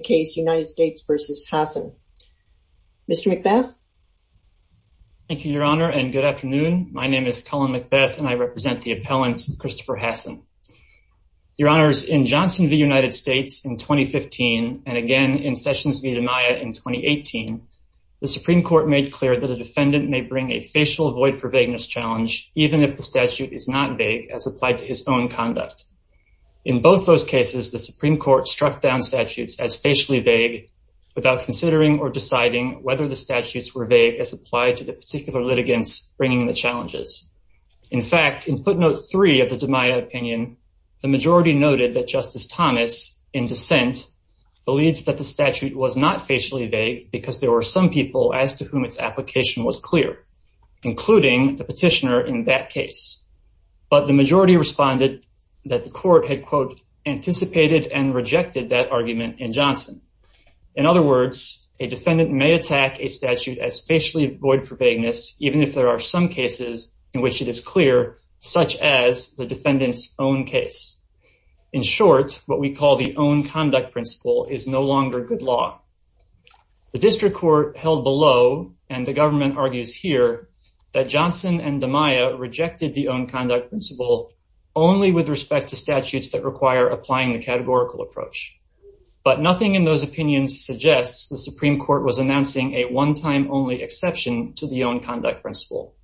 case United States versus Hassan. Mr. McBeth. Thank you, Your Honor, and good afternoon. My name is Colin McBeth, and I represent the appellant Christopher Hassan. Your Honors, in Johnson v. United States in 2015, and again in Sessions v. DiMaia in 2018, the Supreme Court made clear that a defendant may bring a facial void for vagueness challenge, even if the statute is not vague as applied to his own conduct. In both those cases, the statute was not facially vague without considering or deciding whether the statutes were vague as applied to the particular litigants bringing the challenges. In fact, in footnote three of the DiMaia opinion, the majority noted that Justice Thomas, in dissent, believed that the statute was not facially vague because there were some people as to whom its application was clear, including the petitioner in that case. But the majority responded that the In other words, a defendant may attack a statute as facially void for vagueness, even if there are some cases in which it is clear, such as the defendant's own case. In short, what we call the own conduct principle is no longer good law. The district court held below, and the government argues here, that Johnson and DiMaia rejected the own conduct principle only with respect to statutes that require applying the categorical approach. But nothing in those opinions suggests the Supreme Court was announcing a one-time-only exception to the own conduct principle.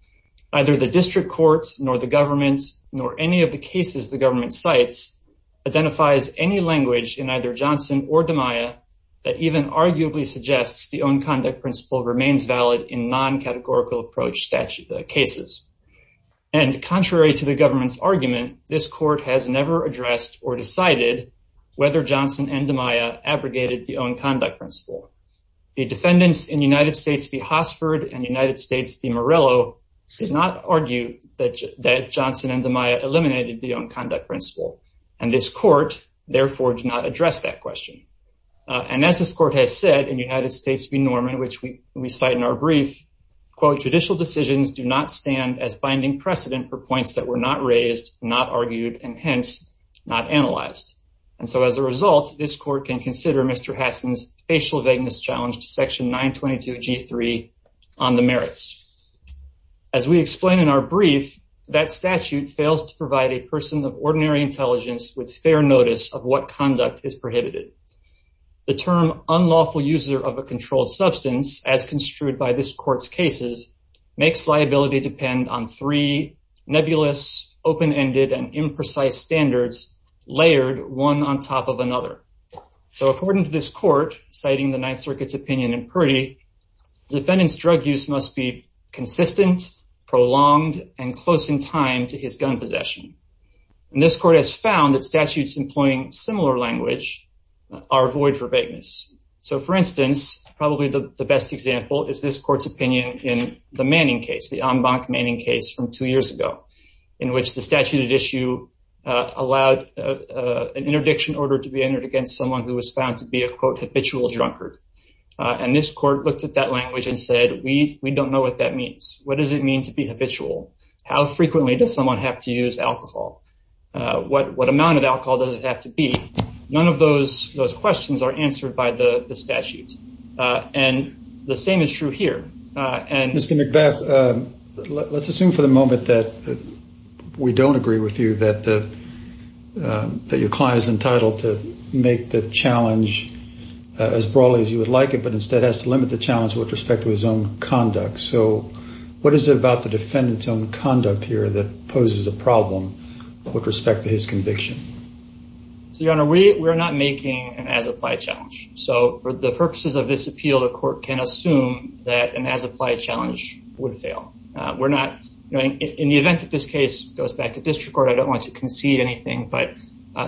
Either the district court, nor the government, nor any of the cases the government cites, identifies any language in either Johnson or DiMaia that even arguably suggests the own conduct principle remains valid in non-categorical approach statute cases. And contrary to the government's argument, this court has never addressed or eliminated the own conduct principle. The defendants in United States v. Hosford and United States v. Morello did not argue that Johnson and DiMaia eliminated the own conduct principle. And this court, therefore, did not address that question. And as this court has said in United States v. Norman, which we cite in our brief, quote, judicial decisions do not stand as binding precedent for points that were not raised, not argued, and hence not analyzed. And so as a result, this court can consider Mr. Hassan's facial vagueness challenge to section 922G3 on the merits. As we explain in our brief, that statute fails to provide a person of ordinary intelligence with fair notice of what conduct is prohibited. The term unlawful user of a controlled substance, as construed by this court's cases, makes standards layered one on top of another. So according to this court, citing the Ninth Circuit's opinion in Purdy, defendant's drug use must be consistent, prolonged, and close in time to his gun possession. And this court has found that statutes employing similar language are void for vagueness. So for instance, probably the best example is this court's opinion in the Manning case, the Ambach-Manning case from two years ago, in which the statute at issue allowed an interdiction order to be entered against someone who was found to be a, quote, habitual drunkard. And this court looked at that language and said, we don't know what that means. What does it mean to be habitual? How frequently does someone have to use alcohol? What amount of alcohol does it have to be? None of those questions are answered by the statute. And the same is true here. Mr. McBeth, let's assume for the moment that we don't agree with you, that your client is entitled to make the challenge as broadly as you would like it, but instead has to limit the challenge with respect to his own conduct. So what is it about the defendant's own conduct here that poses a problem with respect to his conviction? So, Your Honor, we are not making an as-applied challenge. So for the purposes of this appeal, the court can assume that an as-applied challenge would fail. In the event that this case goes back to district court, I don't want to concede anything, but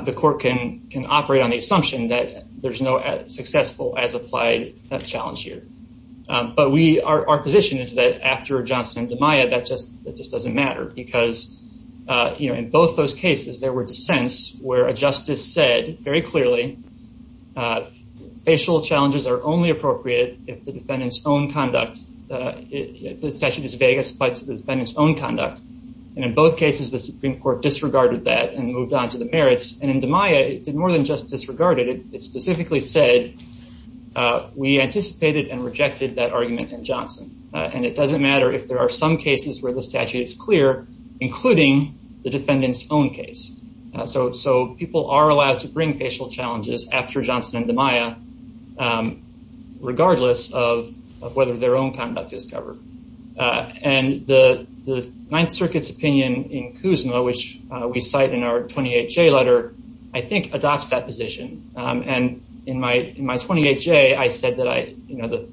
the court can operate on the assumption that there's no successful as-applied challenge here. But our position is that after Johnson and DiMaia, that just doesn't matter, because in both those cases, there were dissents where a justice said very clearly, facial challenges are only appropriate if the defendant's own conduct, if the statute is vague as applied to the defendant's own conduct. And in both cases, the Supreme Court disregarded that and moved on to the merits. And in DiMaia, it did more than just disregard it. It specifically said, we anticipated and rejected that argument in Johnson. And it doesn't matter if there are some cases where the statute is clear, including the defendant's own case. So people are allowed to bring facial challenges after Johnson and DiMaia, regardless of whether their own conduct is covered. And the Ninth Circuit's opinion in Kuzma, which we cite in our 28J letter, I think adopts that position. And in my 28J, I said that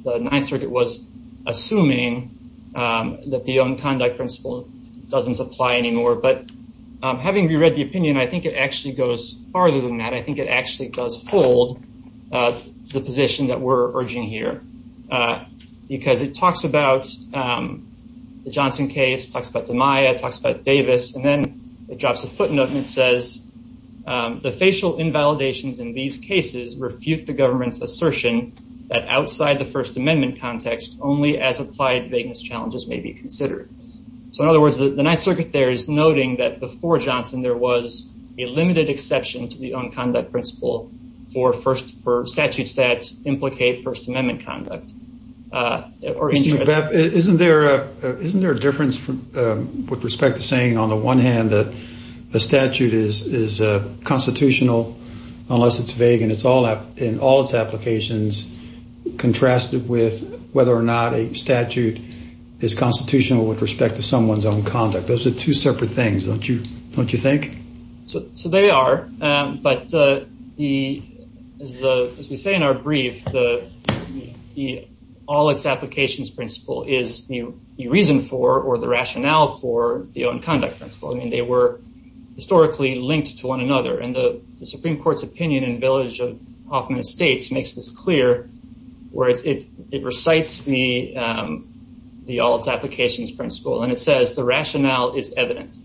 the Ninth Circuit was assuming that the own conduct principle doesn't apply anymore. But having reread the opinion, I think it actually goes farther than that. I think it actually does hold the position that we're urging here. Because it talks about the Johnson case, talks about DiMaia, talks about Davis, and then it drops a footnote and it says, the facial invalidations in these cases refute the government's assertion that outside the First Amendment context, only as applied vagueness challenges may be considered. So in other words, the Ninth Circuit there is noting that before Johnson, there was a limited exception to the own conduct principle for statutes that implicate First Amendment conduct. Excuse me, Bep, isn't there a difference with respect to saying on the one hand that a statute is constitutional, unless it's vague, and in all its applications, contrasted with whether or not a statute is constitutional with respect to someone's own conduct? Those are two separate things, don't you think? So they are. But as we say in our brief, the all its applications principle is the reason for, or the rationale for, the own conduct principle. I mean, they were historically linked to one another. And the Supreme Court's opinion in the village of Hoffman Estates makes this clear, whereas it recites the all its applications principle. And it says the rationale is evident.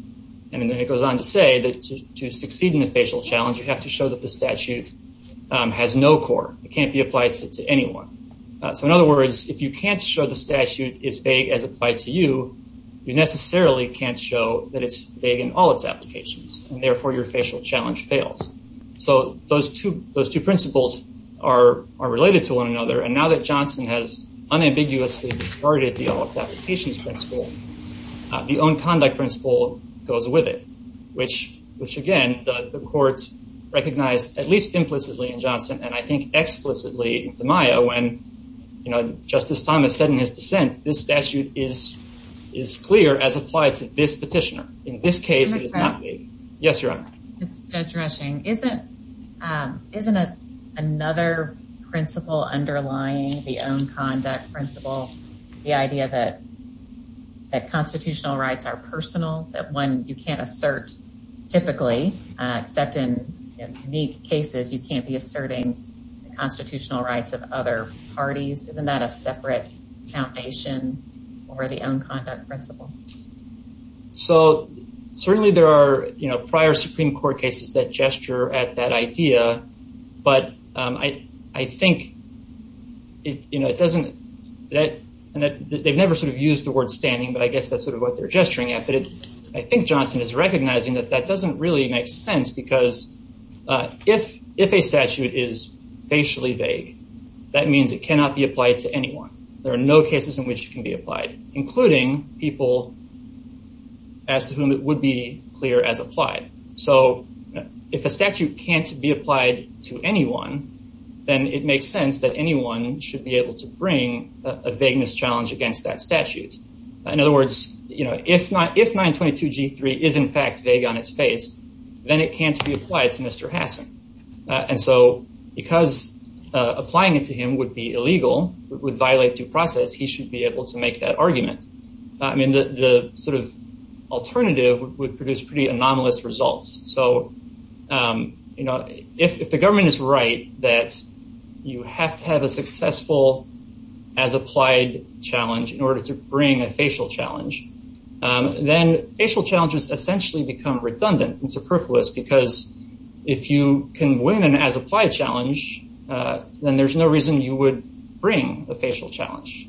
And then it goes on to say that to succeed in a facial challenge, you have to show that the statute has no core. It can't be applied to anyone. So in other words, if you can't show the statute is vague as applied to you, you necessarily can't show that it's vague in all its applications. And therefore, your facial challenge fails. So those two principles are related to one another. And now that Johnson has unambiguously discarded the all its applications principle, the own conduct principle goes with it, which again, the court recognized at least implicitly in Johnson, and I think explicitly in DiMaio. And, you know, Justice Thomas said in his dissent, this statute is clear as applied to this petitioner. In this case, it is not vague. Yes, Your Honor. Judge Rushing, isn't another principle underlying the own conduct principle, the idea that constitutional rights are personal, that one, you can't assert typically, except in unique cases, you can't be asserting the constitutional rights of other parties? Isn't that a separate foundation for the own conduct principle? So certainly there are, you know, prior Supreme Court cases that gesture at that idea. But I think it, you know, it doesn't, that they've never sort of used the word standing, but I guess that's sort of what they're gesturing at. But I think Johnson is recognizing that that doesn't really make sense because if a statute is facially vague, that means it cannot be applied to anyone. There are no cases in which it can be applied, including people as to whom it would be clear as applied. So if a statute can't be applied to anyone, then it makes sense that anyone should be able to bring a vagueness challenge against that statute. In other words, you know, if 922 G3 is in fact vague on its face, then it can't be applied to Mr. Hassan. And so because applying it to him would be illegal, would violate due process, he should be able to make that argument. I mean, the sort of alternative would produce pretty anomalous results. So, you know, if the government is right that you have to have a successful as applied challenge in order to essentially become redundant and superfluous, because if you can win an as applied challenge, then there's no reason you would bring a facial challenge,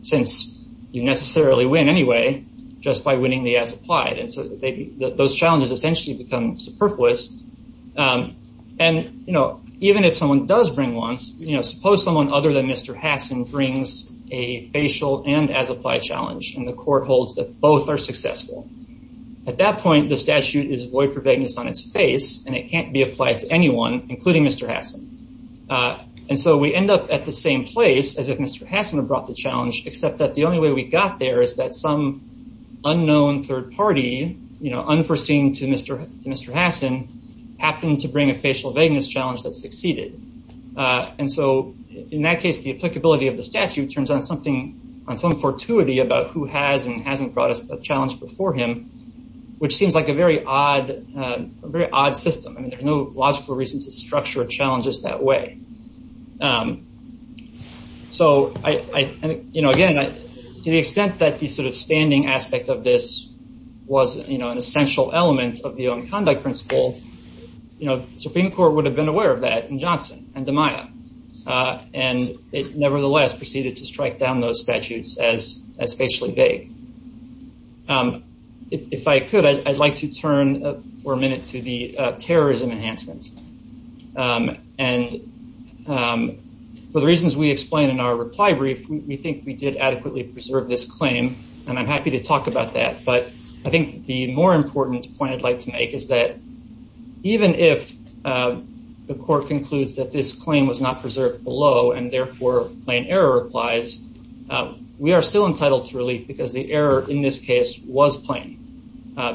since you necessarily win anyway, just by winning the as applied. And so those challenges essentially become superfluous. And, you know, even if someone does bring one, you know, suppose someone other than Mr. Hassan brings a facial and as applied challenge, and the court holds that both are successful. At that point, the statute is void for vagueness on its face, and it can't be applied to anyone, including Mr. Hassan. And so we end up at the same place as if Mr. Hassan had brought the challenge, except that the only way we got there is that some unknown third party, you know, unforeseen to Mr. Hassan happened to bring a facial vagueness challenge that succeeded. And so in that case, the applicability of the statute turns on something, on some fortuity about who has and hasn't brought us a challenge before him, which seems like a very odd, very odd system. I mean, there's no logical reason to structure challenges that way. So I, you know, again, to the extent that the sort of standing aspect of this was, you know, an essential element of the own conduct principle, you know, Supreme Court would have been aware of that in Johnson and DiMaio. And it nevertheless proceeded to strike down those statutes as facially vague. If I could, I'd like to turn for a minute to the terrorism enhancements. And for the reasons we explained in our reply brief, we think we did adequately preserve this claim. And I'm happy to talk about that. But I think the more important point I'd like to make is that even if the court concludes that this claim was not preserved below and therefore plain error applies, we are still entitled to relief because the error in this case was plain.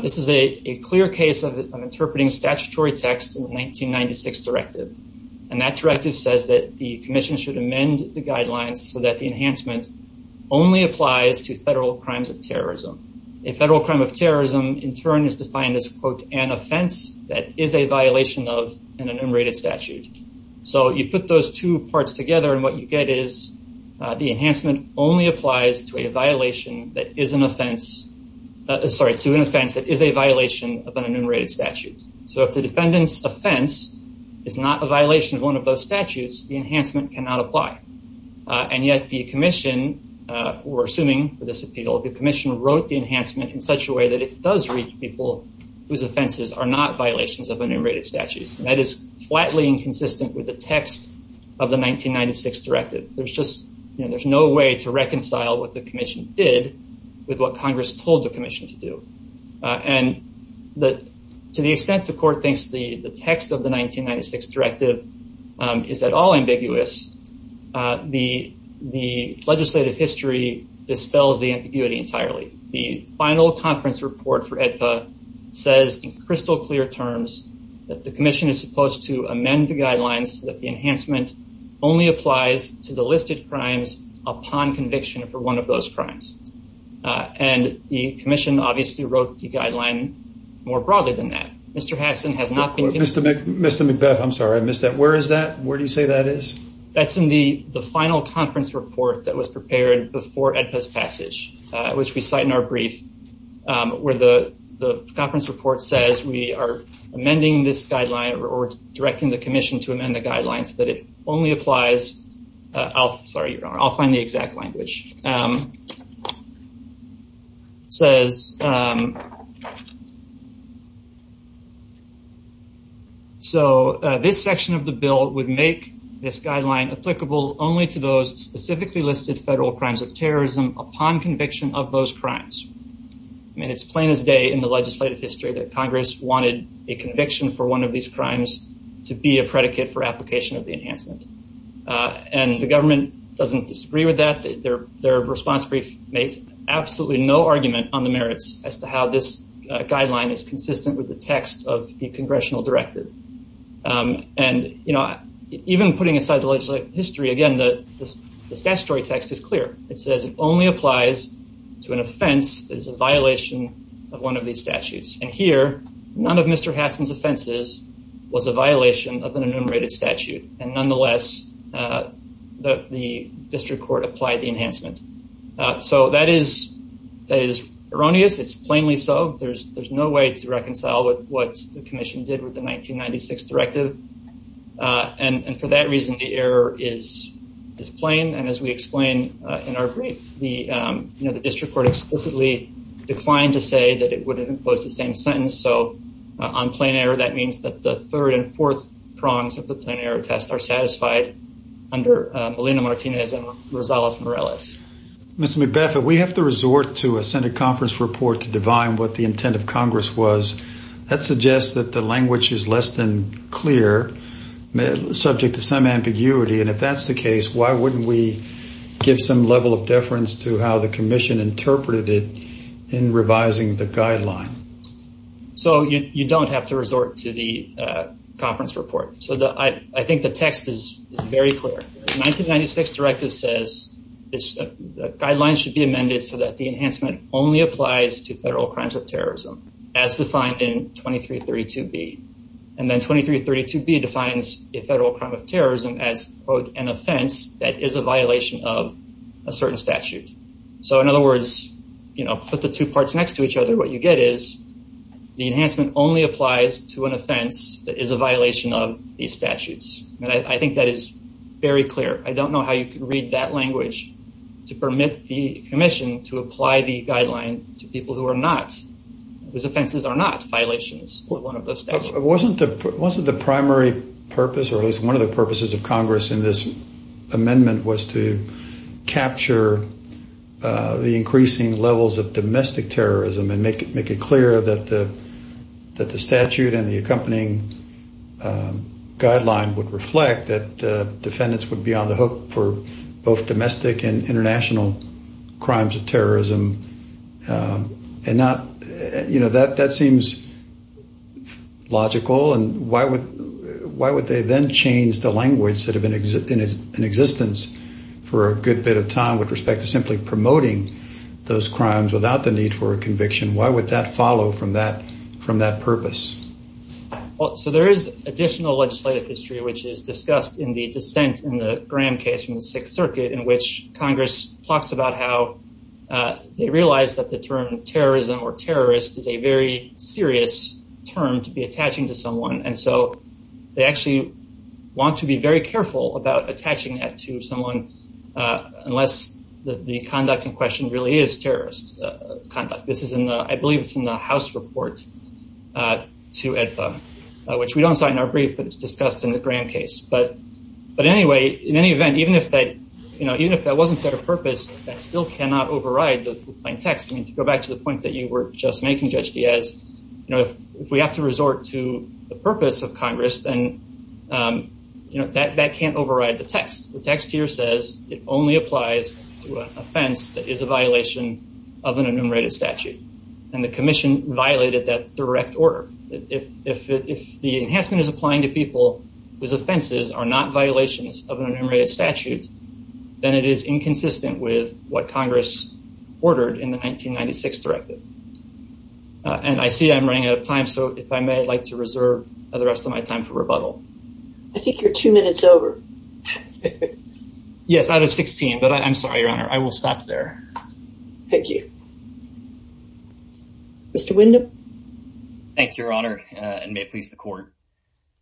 This is a clear case of interpreting statutory text in the 1996 directive. And that directive says that the commission should amend the guidelines so that the enhancement only applies to federal crimes of terrorism. A federal crime of terrorism, in turn, is defined as, quote, an offense that is a violation of an enumerated statute. So you put those two parts together and what you get is the enhancement only applies to a violation that is an offense, sorry, to an offense that is a violation of an enumerated statute. So if the defendant's offense is not a violation of one of those statutes, the enhancement cannot apply. And yet the commission, we're assuming for this appeal, the commission wrote the enhancement in such a way that it does reach people whose offenses are not violations of enumerated statutes. And that is flatly inconsistent with the text of the 1996 directive. There's no way to reconcile what the commission did with what Congress told the commission to do. And to the extent the court thinks the text of 1996 directive is at all ambiguous, the legislative history dispels the ambiguity entirely. The final conference report for AEDPA says in crystal clear terms that the commission is supposed to amend the guidelines so that the enhancement only applies to the listed crimes upon conviction for one of those crimes. And the commission obviously wrote the guideline more broadly than that. Mr. Hassan has not been... Mr. McBeth, I'm sorry, I missed that. Where is that? Where do you say that is? That's in the final conference report that was prepared before AEDPA's passage, which we cite in our brief, where the conference report says we are amending this guideline or directing the commission to amend the guidelines so that it only applies... So this section of the bill would make this guideline applicable only to those specifically listed federal crimes of terrorism upon conviction of those crimes. I mean, it's plain as day in the legislative history that Congress wanted a conviction for one of these crimes to be a predicate for application of the enhancement. And the government doesn't disagree with that. Their response brief makes absolutely no argument on the merits as to how this guideline is consistent with the text of the congressional directive. And even putting aside the legislative history, again, the statutory text is clear. It says it only applies to an offense that is a violation of one of these statutes. And here, none of Mr. Hassan's offenses was a violation of an enumerated statute. And nonetheless, the district court applied the enhancement. So that is erroneous. It's plainly so. There's no way to reconcile with what the commission did with the 1996 directive. And for that reason, the error is plain. And as we explain in our brief, the district court explicitly declined to say that it wouldn't impose the same sentence. So on plain error, that means that the third and fourth prongs of the plain error test are satisfied under Melina Martinez and Rosales-Morales. Mr. McBeth, we have to resort to a Senate conference report to divine what the intent of Congress was. That suggests that the language is less than clear, subject to some ambiguity. And if that's the case, why wouldn't we give some level of deference to how the commission interpreted it in revising the guideline? So you don't have to resort to the conference report. So I think the text is very clear. The 1996 directive says the guidelines should be amended so that the enhancement only applies to federal crimes of terrorism, as defined in 2332B. And then 2332B defines a federal crime of terrorism as, quote, an offense that is a violation of a certain statute. So in other words, put the two parts next to each other, what you get is the enhancement only applies to an offense that is a violation of these statutes. And I think that is very clear. I don't know how you can read that language to permit the commission to apply the guideline to people whose offenses are not violations of one of those statutes. Wasn't the primary purpose, or at least one of the purposes of Congress in this amendment, was to that the statute and the accompanying guideline would reflect that defendants would be on the hook for both domestic and international crimes of terrorism. And not, you know, that seems logical. And why would they then change the language that had been in existence for a good bit of time with respect to simply promoting those crimes without the need for a conviction? Why would that follow from that purpose? So there is additional legislative history, which is discussed in the dissent in the Graham case from the Sixth Circuit, in which Congress talks about how they realize that the term terrorism or terrorist is a very serious term to be attaching to someone. And so they actually want to be very careful about attaching that to someone unless the conduct in question really is terrorist conduct. This is in the, I believe it's in the House report to AEDPA, which we don't cite in our brief, but it's discussed in the Graham case. But anyway, in any event, even if that, you know, even if that wasn't their purpose, that still cannot override the plain text. I mean, to go back to the point that you were just making, Judge Diaz, you know, if we have to resort to the purpose of Congress, then, you know, that can't override the text. The text here says it only applies to an offense that is a violation of an enumerated statute. And the commission violated that direct order. If the enhancement is applying to people whose offenses are not violations of an enumerated statute, then it is inconsistent with what Congress ordered in the 1996 directive. And I see I'm running out of time, so if I may, I'd like to reserve the rest of my time for I think you're two minutes over. Yes, out of 16, but I'm sorry, Your Honor, I will stop there. Thank you. Mr. Windham? Thank you, Your Honor, and may it please the court.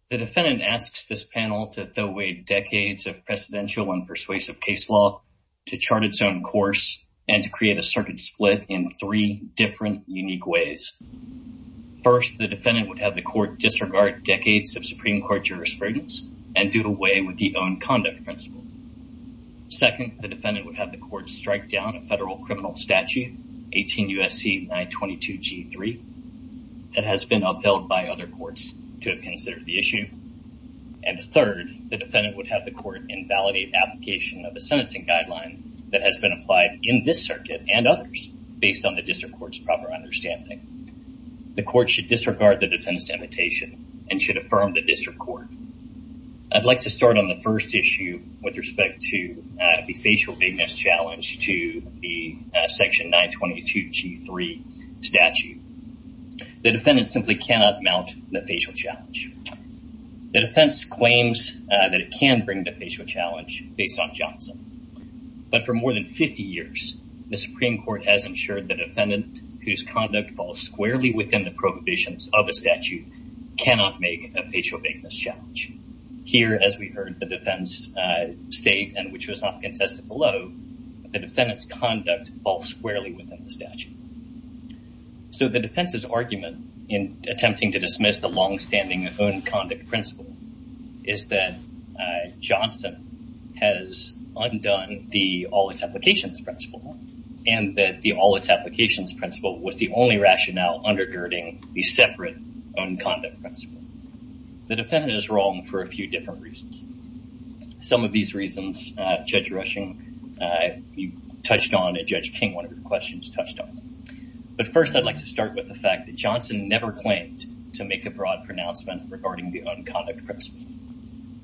The defendant asks this panel to throw away decades of precedential and persuasive case law to chart its own course and to create a certain split in three different unique ways. First, the defendant would have the court disregard decades of Supreme Court jurisprudence and do away with the own conduct principle. Second, the defendant would have the court strike down a federal criminal statute, 18 U.S.C. 922 G3, that has been upheld by other courts to have considered the issue. And third, the defendant would have the court invalidate application of a sentencing guideline that has been applied in this circuit and others based on the district court's proper understanding. The court should disregard the defendant's imitation and should affirm the district court. I'd like to start on the first issue with respect to the facial bigness challenge to the section 922 G3 statute. The defendant simply cannot mount the facial challenge. The defense claims that it can bring the facial challenge based on Johnson, but for more than 50 years, the Supreme Court has ensured the defendant whose conduct falls squarely within the prohibitions of a statute cannot make a facial bigness challenge. Here, as we heard the defense state and which was not contested below, the defendant's conduct falls squarely within the statute. So the defense's argument in attempting to dismiss the all-its-applications principle and that the all-its-applications principle was the only rationale undergirding the separate own conduct principle. The defendant is wrong for a few different reasons. Some of these reasons, Judge Rushing, you touched on and Judge King, one of your questions, touched on. But first, I'd like to start with the fact that Johnson never claimed to make a broad pronouncement regarding the own conduct principle.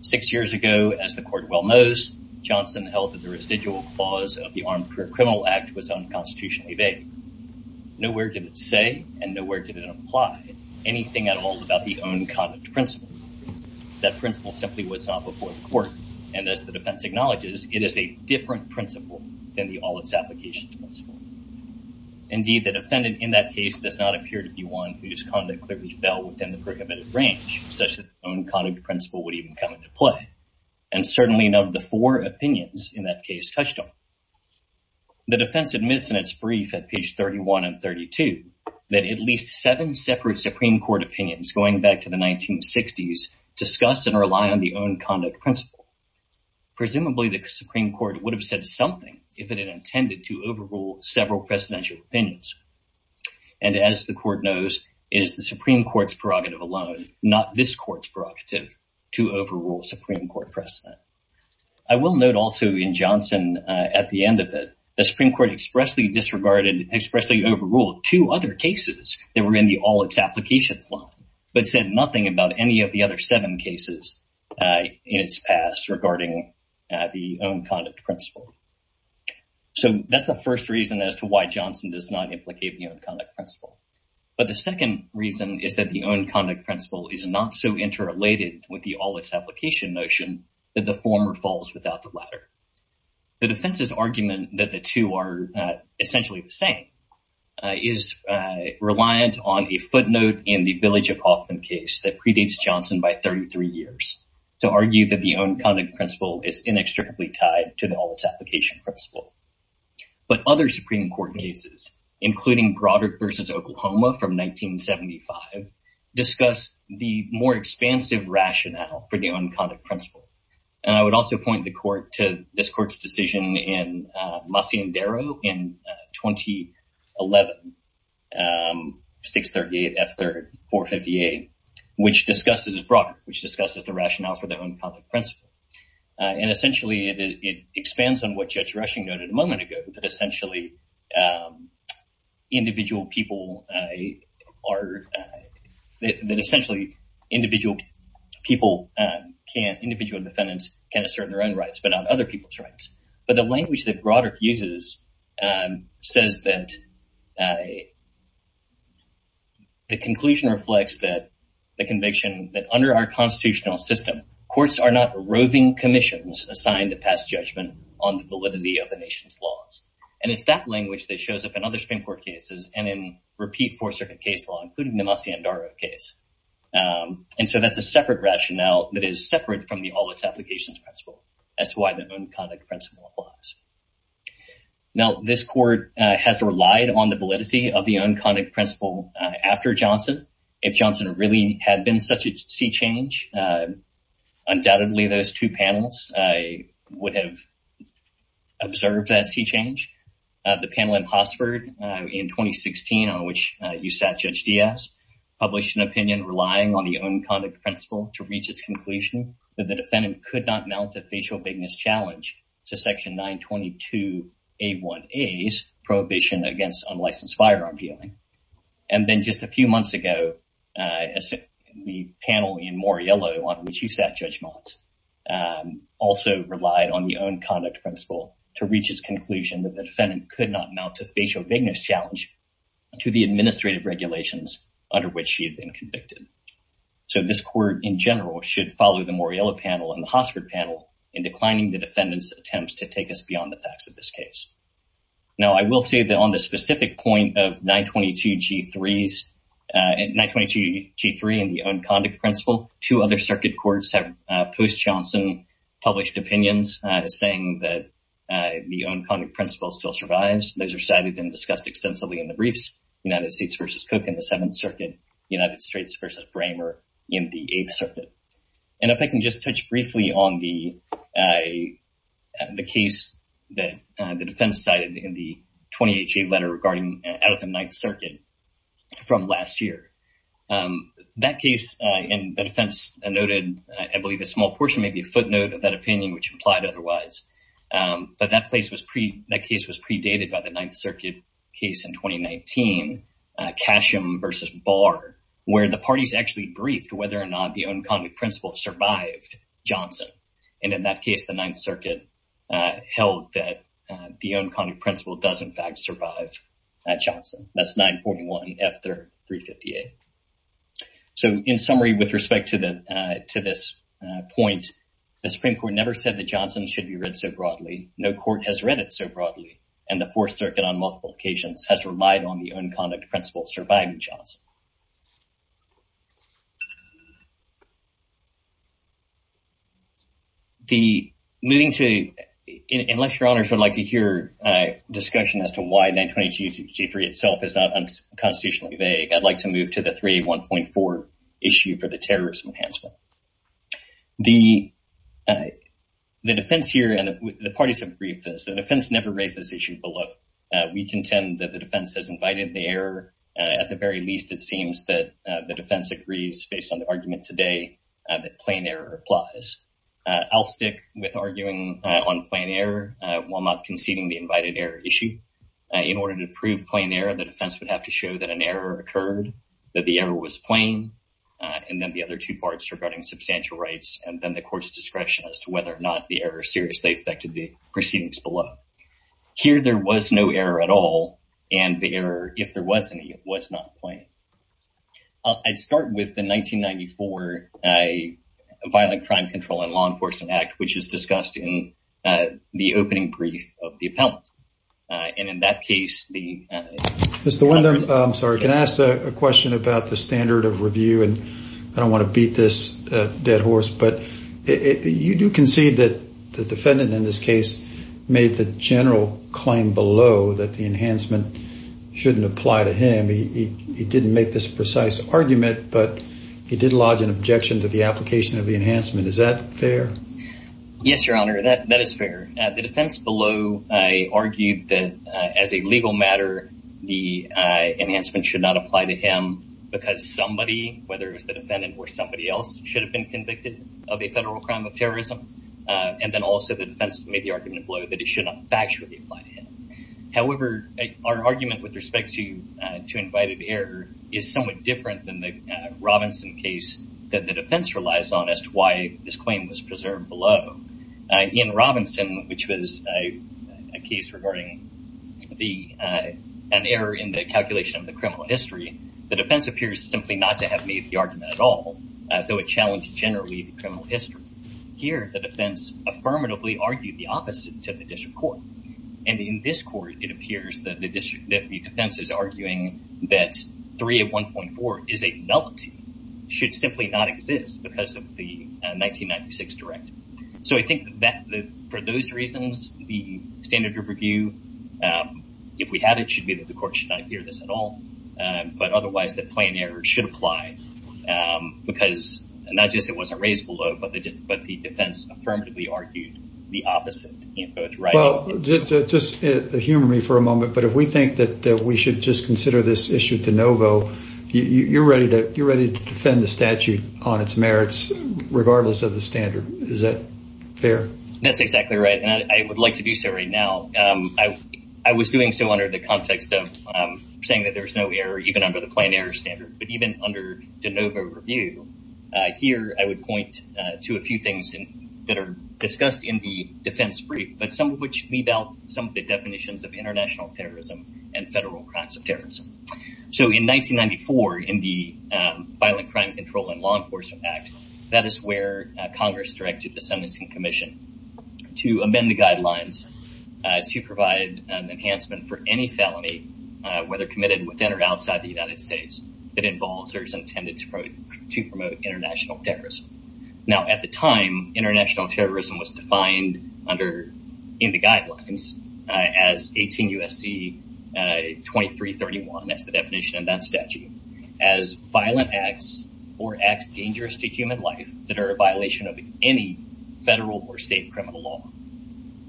Six years ago, as the court well knows, Johnson held that the residual clause of the Armed Criminal Act was unconstitutionally vague. Nowhere did it say and nowhere did it apply anything at all about the own conduct principle. That principle simply was not before the court. And as the defense acknowledges, it is a different principle than the all-its-applications principle. Indeed, the defendant in that case does not appear to be one whose conduct clearly fell within the prohibited range such that the own conduct principle would even come into play. And certainly none of the four opinions in that case touched on. The defense admits in its brief at page 31 and 32 that at least seven separate Supreme Court opinions going back to the 1960s discuss and rely on the own conduct principle. Presumably, the Supreme Court would have said something if it had intended to overrule several presidential opinions. And as the court knows, it is the Supreme Court's prerogative alone, not this court's prerogative, to overrule Supreme Court precedent. I will note also in Johnson at the end of it, the Supreme Court expressly disregarded, expressly overruled two other cases that were in the all-its-applications law, but said nothing about any of the other seven cases in its past regarding the own conduct principle. So that's the first reason as to why Johnson does not implicate the own conduct principle. But the second reason is that the own conduct principle is not so interrelated with the all-its-application notion that the former falls without the latter. The defense's argument that the two are essentially the same is reliant on a footnote in the Village of Hoffman case that predates Johnson by 33 years to argue that the own conduct principle is inextricably tied to the all-its-application principle. But other Supreme Court cases, including Broderick v. Oklahoma from 1975, discuss the more expansive rationale for the own conduct principle. And I would also point the court to this court's decision in Masi Endero in 2011, 638 F. 3rd 458, which discusses Broderick, which discusses the rationale for the own conduct principle. And essentially it expands on what Judge Rushing noted a moment ago, that essentially individual defendants can assert their own rights, but not other people's rights. But the language that Broderick uses says that the conclusion reflects the conviction that under our constitutional system, courts are not laws. And it's that language that shows up in other Supreme Court cases and in repeat Fourth Circuit case law, including the Masi Endero case. And so that's a separate rationale that is separate from the all-its-applications principle. That's why the own conduct principle applies. Now, this court has relied on the validity of the own conduct principle after Johnson. If Johnson really had been such a sea change, undoubtedly those two panels would have observed that sea change. The panel in Hossford in 2016, on which you sat, Judge Diaz, published an opinion relying on the own conduct principle to reach its conclusion that the defendant could not mount a facial bigness challenge to Section 922A1A's prohibition against unlicensed firearm dealing. And then just a few months ago, the panel in Moriello, on which you sat, Judge Motz, also relied on the own conduct principle to reach its conclusion that the defendant could not mount a facial bigness challenge to the administrative regulations under which she had been convicted. So this court, in general, should follow the Moriello panel and the Hossford panel in declining the defendant's attempts to take us beyond the facts of this case. Now, I will say that on the specific point of 922G3 and the own conduct principle, two other circuit courts have, post-Johnson, published opinions saying that the own conduct principle still survives. Those are cited and discussed extensively in the briefs, United States v. Cook in the Seventh Circuit, United States v. Bramer in the Eighth Circuit. And if I can just touch briefly on the case that the defense cited in the 20HA letter regarding out of the Ninth Circuit from last year. That case, and the defense noted, I believe, a small portion, maybe a footnote of that opinion, which implied otherwise. But that case was predated by the Ninth Circuit case in 2019, Casham v. Barr, where the parties actually briefed whether or not the own conduct principle survived Johnson. And in that case, the Ninth Circuit held that the own conduct principle does, in fact, survive Johnson. That's 941F358. So, in summary, with respect to this point, the Supreme Court never said that Johnson should be read so broadly. No court has read it so broadly. And the Fourth Circuit, on multiple occasions, has relied on the own conduct principle surviving Johnson. The moving to, unless your honors would like to hear a discussion as to why 922G3 itself is not unconstitutionally vague, I'd like to move to the 381.4 issue for the terrorism enhancement. The defense here, and the parties have briefed this, the defense never raised this issue below. We contend that the defense has invited the error, at the very least, that the defense agrees, based on the argument today, that plain error applies. I'll stick with arguing on plain error, while not conceding the invited error issue. In order to prove plain error, the defense would have to show that an error occurred, that the error was plain, and then the other two parts regarding substantial rights, and then the court's discretion as to whether or not the error seriously affected the proceedings below. Here, there was no error at all, and the error, if there was any, was not plain. I'd start with the 1994 Violent Crime Control and Law Enforcement Act, which is discussed in the opening brief of the appellant. And in that case, the... Mr. Windham, I'm sorry, can I ask a question about the standard of review? And I don't want to beat this dead horse, but you do concede that the defendant in this case made the general claim below that the enhancement shouldn't apply to him. He didn't make this precise argument, but he did lodge an objection to the application of the enhancement. Is that fair? Yes, Your Honor, that is fair. The defense below argued that, as a legal matter, the enhancement should not apply to him because somebody, whether it was the defendant or somebody else, should have been convicted of a federal crime of terrorism. And then also, the defense made the argument below that it should not factually apply to him. However, our argument with respect to invited error is somewhat different than the Robinson case that the defense relies on as to why this claim was preserved below. In Robinson, which was a case regarding an error in the calculation of the criminal history, the defense appears simply not to have made the argument at all, though it challenged generally the criminal history. Here, the defense affirmatively argued the opposite to the district court. And in this court, it appears that the defense is arguing that 3 of 1.4 is a nullity, should simply not exist because of the 1996 directive. So I think that for those reasons, the standard of review, if we had it, should be that the court should not hear this at all. But otherwise, the plain error should apply because not just it wasn't raised below, but the defense affirmatively argued the opposite. Well, just humor me for a moment. But if we think that we should just consider this issue de novo, you're ready to defend the statute on its merits, regardless of the standard. Is that fair? That's exactly right. And I would like to do so right now. I was doing so under the context of saying that there's no error, even under the plain error standard. But even under de novo review, here, I would point to a few things that are discussed in the defense brief, but some of which meet out some of the definitions of international terrorism and federal crimes of terrorism. So in 1994, in the Violent Crime Control and Law Enforcement Act, that is where Congress directed the Sentencing Commission to amend the guidelines to provide an enhancement for any felony, whether committed within or outside the United States, that involves or is international terrorism. Now, at the time, international terrorism was defined in the guidelines as 18 U.S.C. 2331, that's the definition of that statute, as violent acts or acts dangerous to human life that are a violation of any federal or state criminal law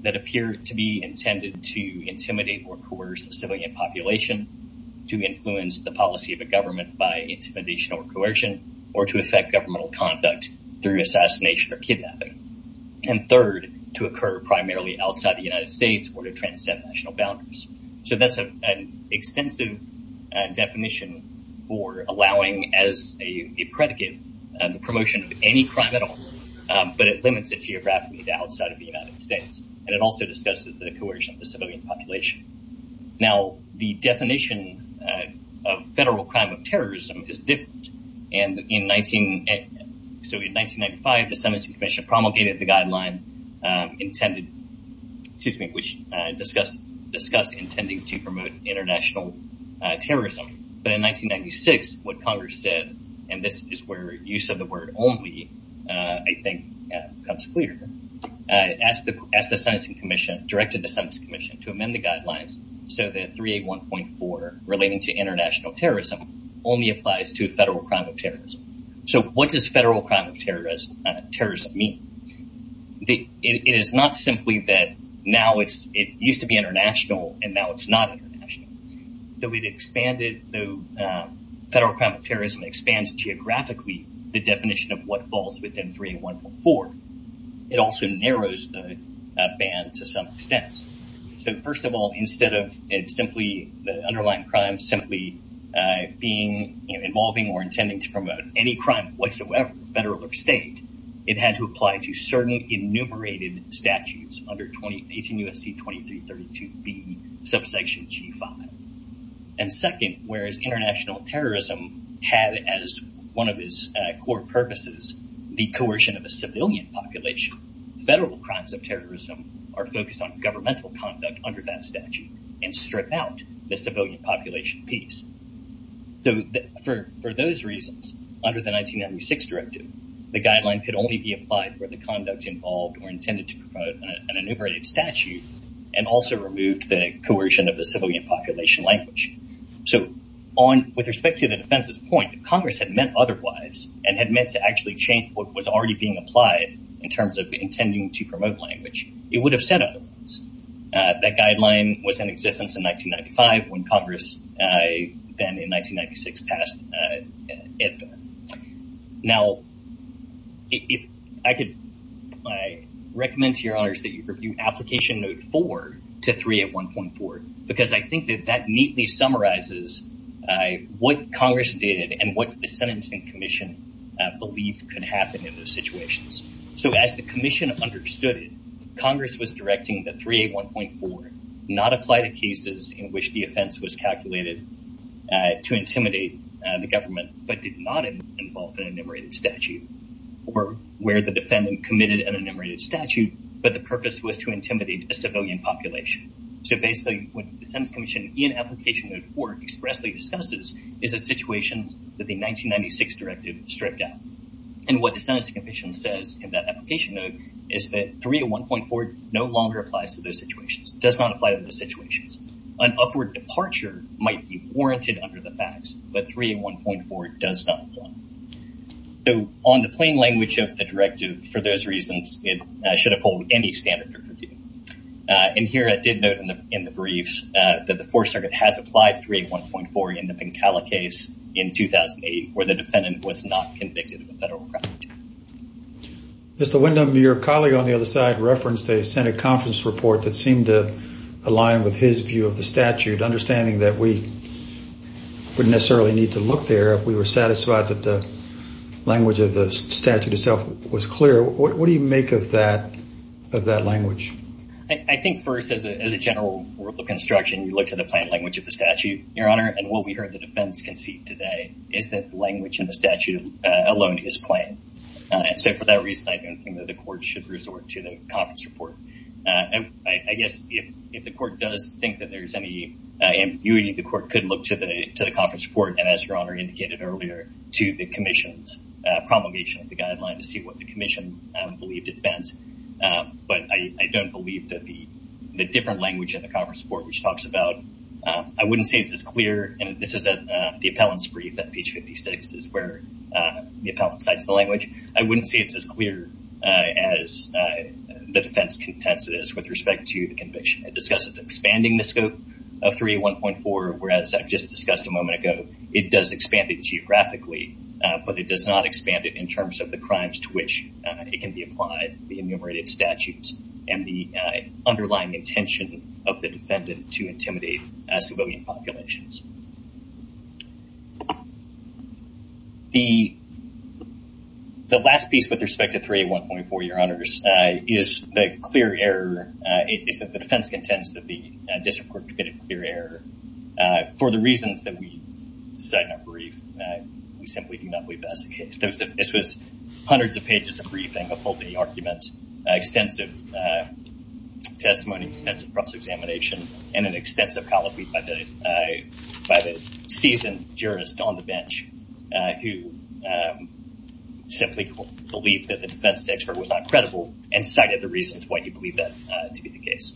that appear to be intended to intimidate or coerce a civilian population, to influence the policy of a government by intimidation or coercion, or to affect governmental conduct through assassination or kidnapping. And third, to occur primarily outside the United States or to transcend national boundaries. So that's an extensive definition for allowing as a predicate the promotion of any crime at all, but it limits it geographically to outside of the United States. And it also discusses the coercion of the civilian population. Now, the definition of federal crime of terrorism is different. And in 19, so in 1995, the Sentencing Commission promulgated the guideline intended, excuse me, which discussed, discussed intending to promote international terrorism. But in 1996, what Congress said, and this is where use of the word only, I think, comes clear. As the, as the Sentencing Commission directed the Sentencing Commission to amend the only applies to federal crime of terrorism. So what does federal crime of terrorist, terrorist mean? It is not simply that now it's, it used to be international, and now it's not international. Though it expanded, though, federal crime of terrorism expands geographically, the definition of what falls within 3 and 1.4. It also narrows the band to some extent. So first of all, instead of it simply, the underlying crime simply being, you know, involving or intending to promote any crime whatsoever, federal or state, it had to apply to certain enumerated statutes under 2018 U.S.C. 2332b, subsection G5. And second, whereas international terrorism had as one of its core purposes, the coercion of a civilian population, federal crimes of terrorism are focused on governmental conduct under that statute and strip out the civilian population piece. So for those reasons, under the 1996 directive, the guideline could only be applied where the conduct involved or intended to promote an enumerated statute and also removed the coercion of the civilian population language. So on, with respect to the defense's point, Congress had meant otherwise and had meant to actually change what was already being applied in terms of intending to promote language. It would have said otherwise. That guideline was in existence in 1995 when Congress then in 1996 passed it. Now, if I could recommend to your honors that you review application note four to 3 at 1.4, because I think that that neatly summarizes what Congress did and what the commission believed could happen in those situations. So as the commission understood it, Congress was directing that 3 at 1.4 not apply to cases in which the offense was calculated to intimidate the government, but did not involve an enumerated statute or where the defendant committed an enumerated statute, but the purpose was to intimidate a civilian population. So basically what the sentence commission in application note four expressly discusses is a situation that the 1996 directive stripped out. And what the sentence commission says in that application note is that 3 at 1.4 no longer applies to those situations, does not apply to those situations. An upward departure might be warranted under the facts, but 3 at 1.4 does not apply. So on the plain language of the directive, for those reasons, it should have pulled any standard. And here I did note in the briefs that the fourth circuit has applied 3 at 1.4 in the Pencala case in 2008, where the defendant was not convicted of a federal crime. Mr. Windham, your colleague on the other side referenced a Senate conference report that seemed to align with his view of the statute, understanding that we wouldn't necessarily need to look there if we were satisfied that the language of the statute itself was clear. What do you make of that, of that language? I think first as a general rule of construction, you look to the plain language of the statute, your honor. And what we heard the defense concede today is that the language in the statute alone is plain. So for that reason, I don't think that the court should resort to the conference report. I guess if the court does think that there's any ambiguity, the court could look to the conference report. And as your honor indicated earlier, to the commission's promulgation of the guideline to see what the commission believed it meant. But I don't believe that the different language of the conference report, which talks about, I wouldn't say it's as clear, and this is the appellant's brief at page 56 is where the appellant cites the language. I wouldn't say it's as clear as the defense contends it is with respect to the conviction. It discusses expanding the scope of 301.4, whereas I've just discussed a moment ago, it does expand it geographically, but it does not expand it in terms of the crimes to which it can be applied, the enumerated statutes and the underlying intention of the defendant to intimidate civilian populations. The last piece with respect to 301.4, your honors, is the clear error, is that the defense contends that the district court committed a clear error for the reasons that we cite in our brief. We simply do not believe that's the case. This was hundreds of pages of briefing of all the arguments, extensive testimony, extensive cross-examination, and an extensive colloquy by the seasoned jurist on the bench who simply believed that the defense expert was not credible and cited the reasons why you believe that to be the case.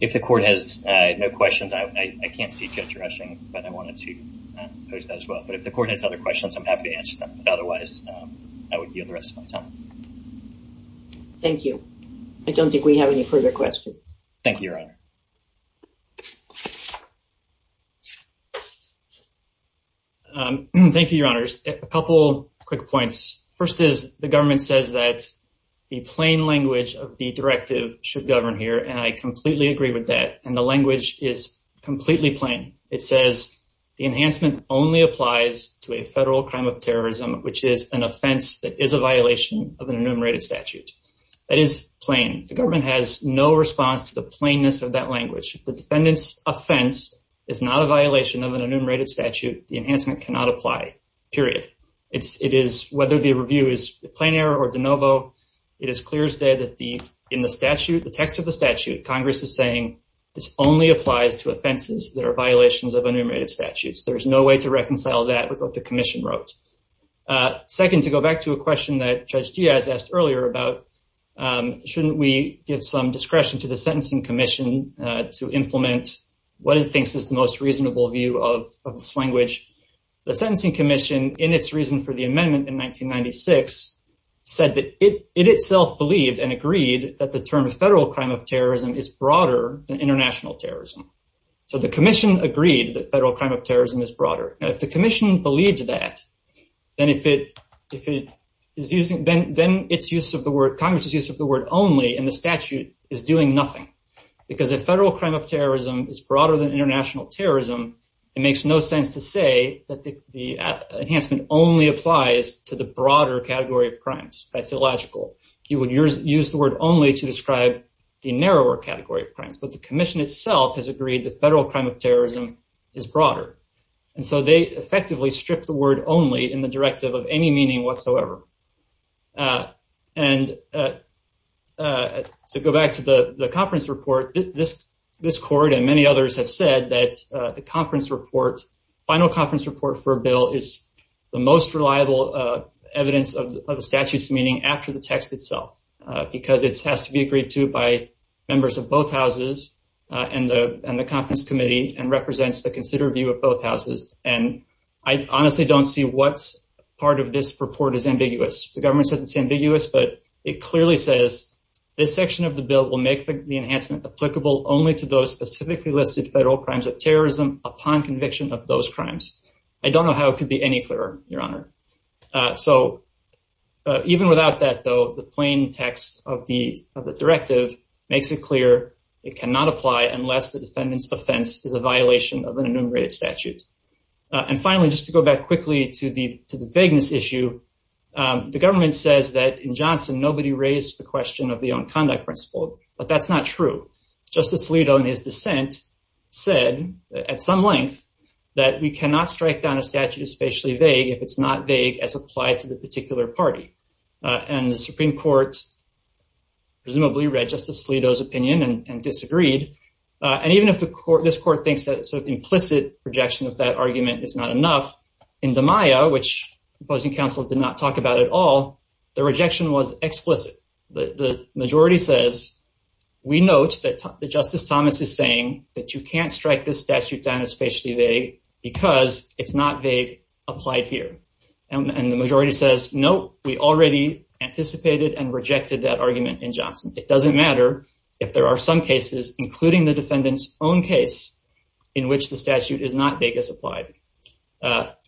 If the court has no questions, I can't see Judge Rushing, but I wanted to pose that as well. But if the court has other questions, I'm happy to answer them. But otherwise, I would yield the rest of my time. Thank you. I don't think we have any further questions. Thank you, your honor. Thank you, your honors. A couple quick points. First is the government says that the plain language of the directive should govern here, and I completely agree with that. And the language is completely plain. It says the enhancement only applies to a federal crime of terrorism, which is an offense that is a violation of an enumerated statute. That is plain. The government has no response to the plainness of that language. If the defendant's offense is not a violation of an enumerated statute, the enhancement cannot apply, period. Whether the review is a plain error or de novo, it is clear as day that in the statute, the text of the statute, Congress is saying this only applies to offenses that are violations of enumerated statutes. There's no way to reconcile that with what the commission wrote. Second, to go back to a question that Judge Diaz asked earlier about, shouldn't we give some discretion to the Sentencing Commission to implement what it thinks is the most reasonable view of this language? The Sentencing Commission, in its reason for the amendment in 1996, said that it itself believed and agreed that the term federal crime of terrorism is broader than international terrorism. So the commission agreed that federal crime of terrorism is broader. Now, if the commission believed that, then Congress's use of the word only in the statute is doing nothing. Because if federal crime of terrorism is broader than international terrorism, it makes no sense to say that the enhancement only applies to the broader category of crimes. That's illogical. You would use the only to describe the narrower category of crimes. But the commission itself has agreed that federal crime of terrorism is broader. And so they effectively stripped the word only in the directive of any meaning whatsoever. And to go back to the conference report, this court and many others have said that the final conference report for a bill is the most reliable evidence of the statute's meaning after the text itself. Because it has to be agreed to by members of both houses and the conference committee and represents the consider view of both houses. And I honestly don't see what part of this report is ambiguous. The government says it's ambiguous, but it clearly says this section of the bill will make the enhancement applicable only to those specifically listed federal crimes of terrorism upon conviction of those crimes. I don't know how it could be any better, Your Honor. So even without that, though, the plain text of the directive makes it clear it cannot apply unless the defendant's offense is a violation of an enumerated statute. And finally, just to go back quickly to the vagueness issue, the government says that in Johnson, nobody raised the question of the own conduct principle. But that's not true. Justice is spatially vague if it's not vague as applied to the particular party. And the Supreme Court presumably read Justice Alito's opinion and disagreed. And even if this court thinks that sort of implicit rejection of that argument is not enough, in DiMaia, which the opposing counsel did not talk about at all, the rejection was explicit. The majority says, we note that Justice Thomas is saying that you can't strike this statute down as spatially vague because it's not vague applied here. And the majority says, no, we already anticipated and rejected that argument in Johnson. It doesn't matter if there are some cases, including the defendant's own case, in which the statute is not vague as applied.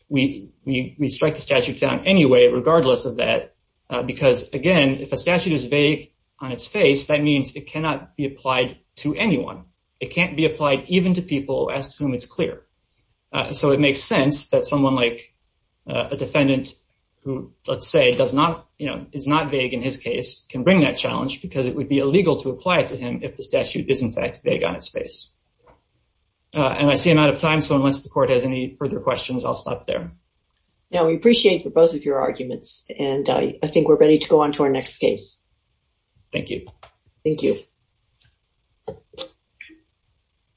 We strike the statute down anyway, regardless of that, because again, if a statute is vague on its face, that means it cannot be applied to anyone. It can't be applied even to people as to whom it's clear. So it makes sense that someone like a defendant who, let's say, is not vague in his case, can bring that challenge because it would be illegal to apply it to him if the statute is in fact vague on its face. And I see I'm out of time. So unless the court has any further questions, I'll stop there. Now, we appreciate both of your arguments. And I think we're ready to go on to our next case. Thank you. Thank you. Thank you.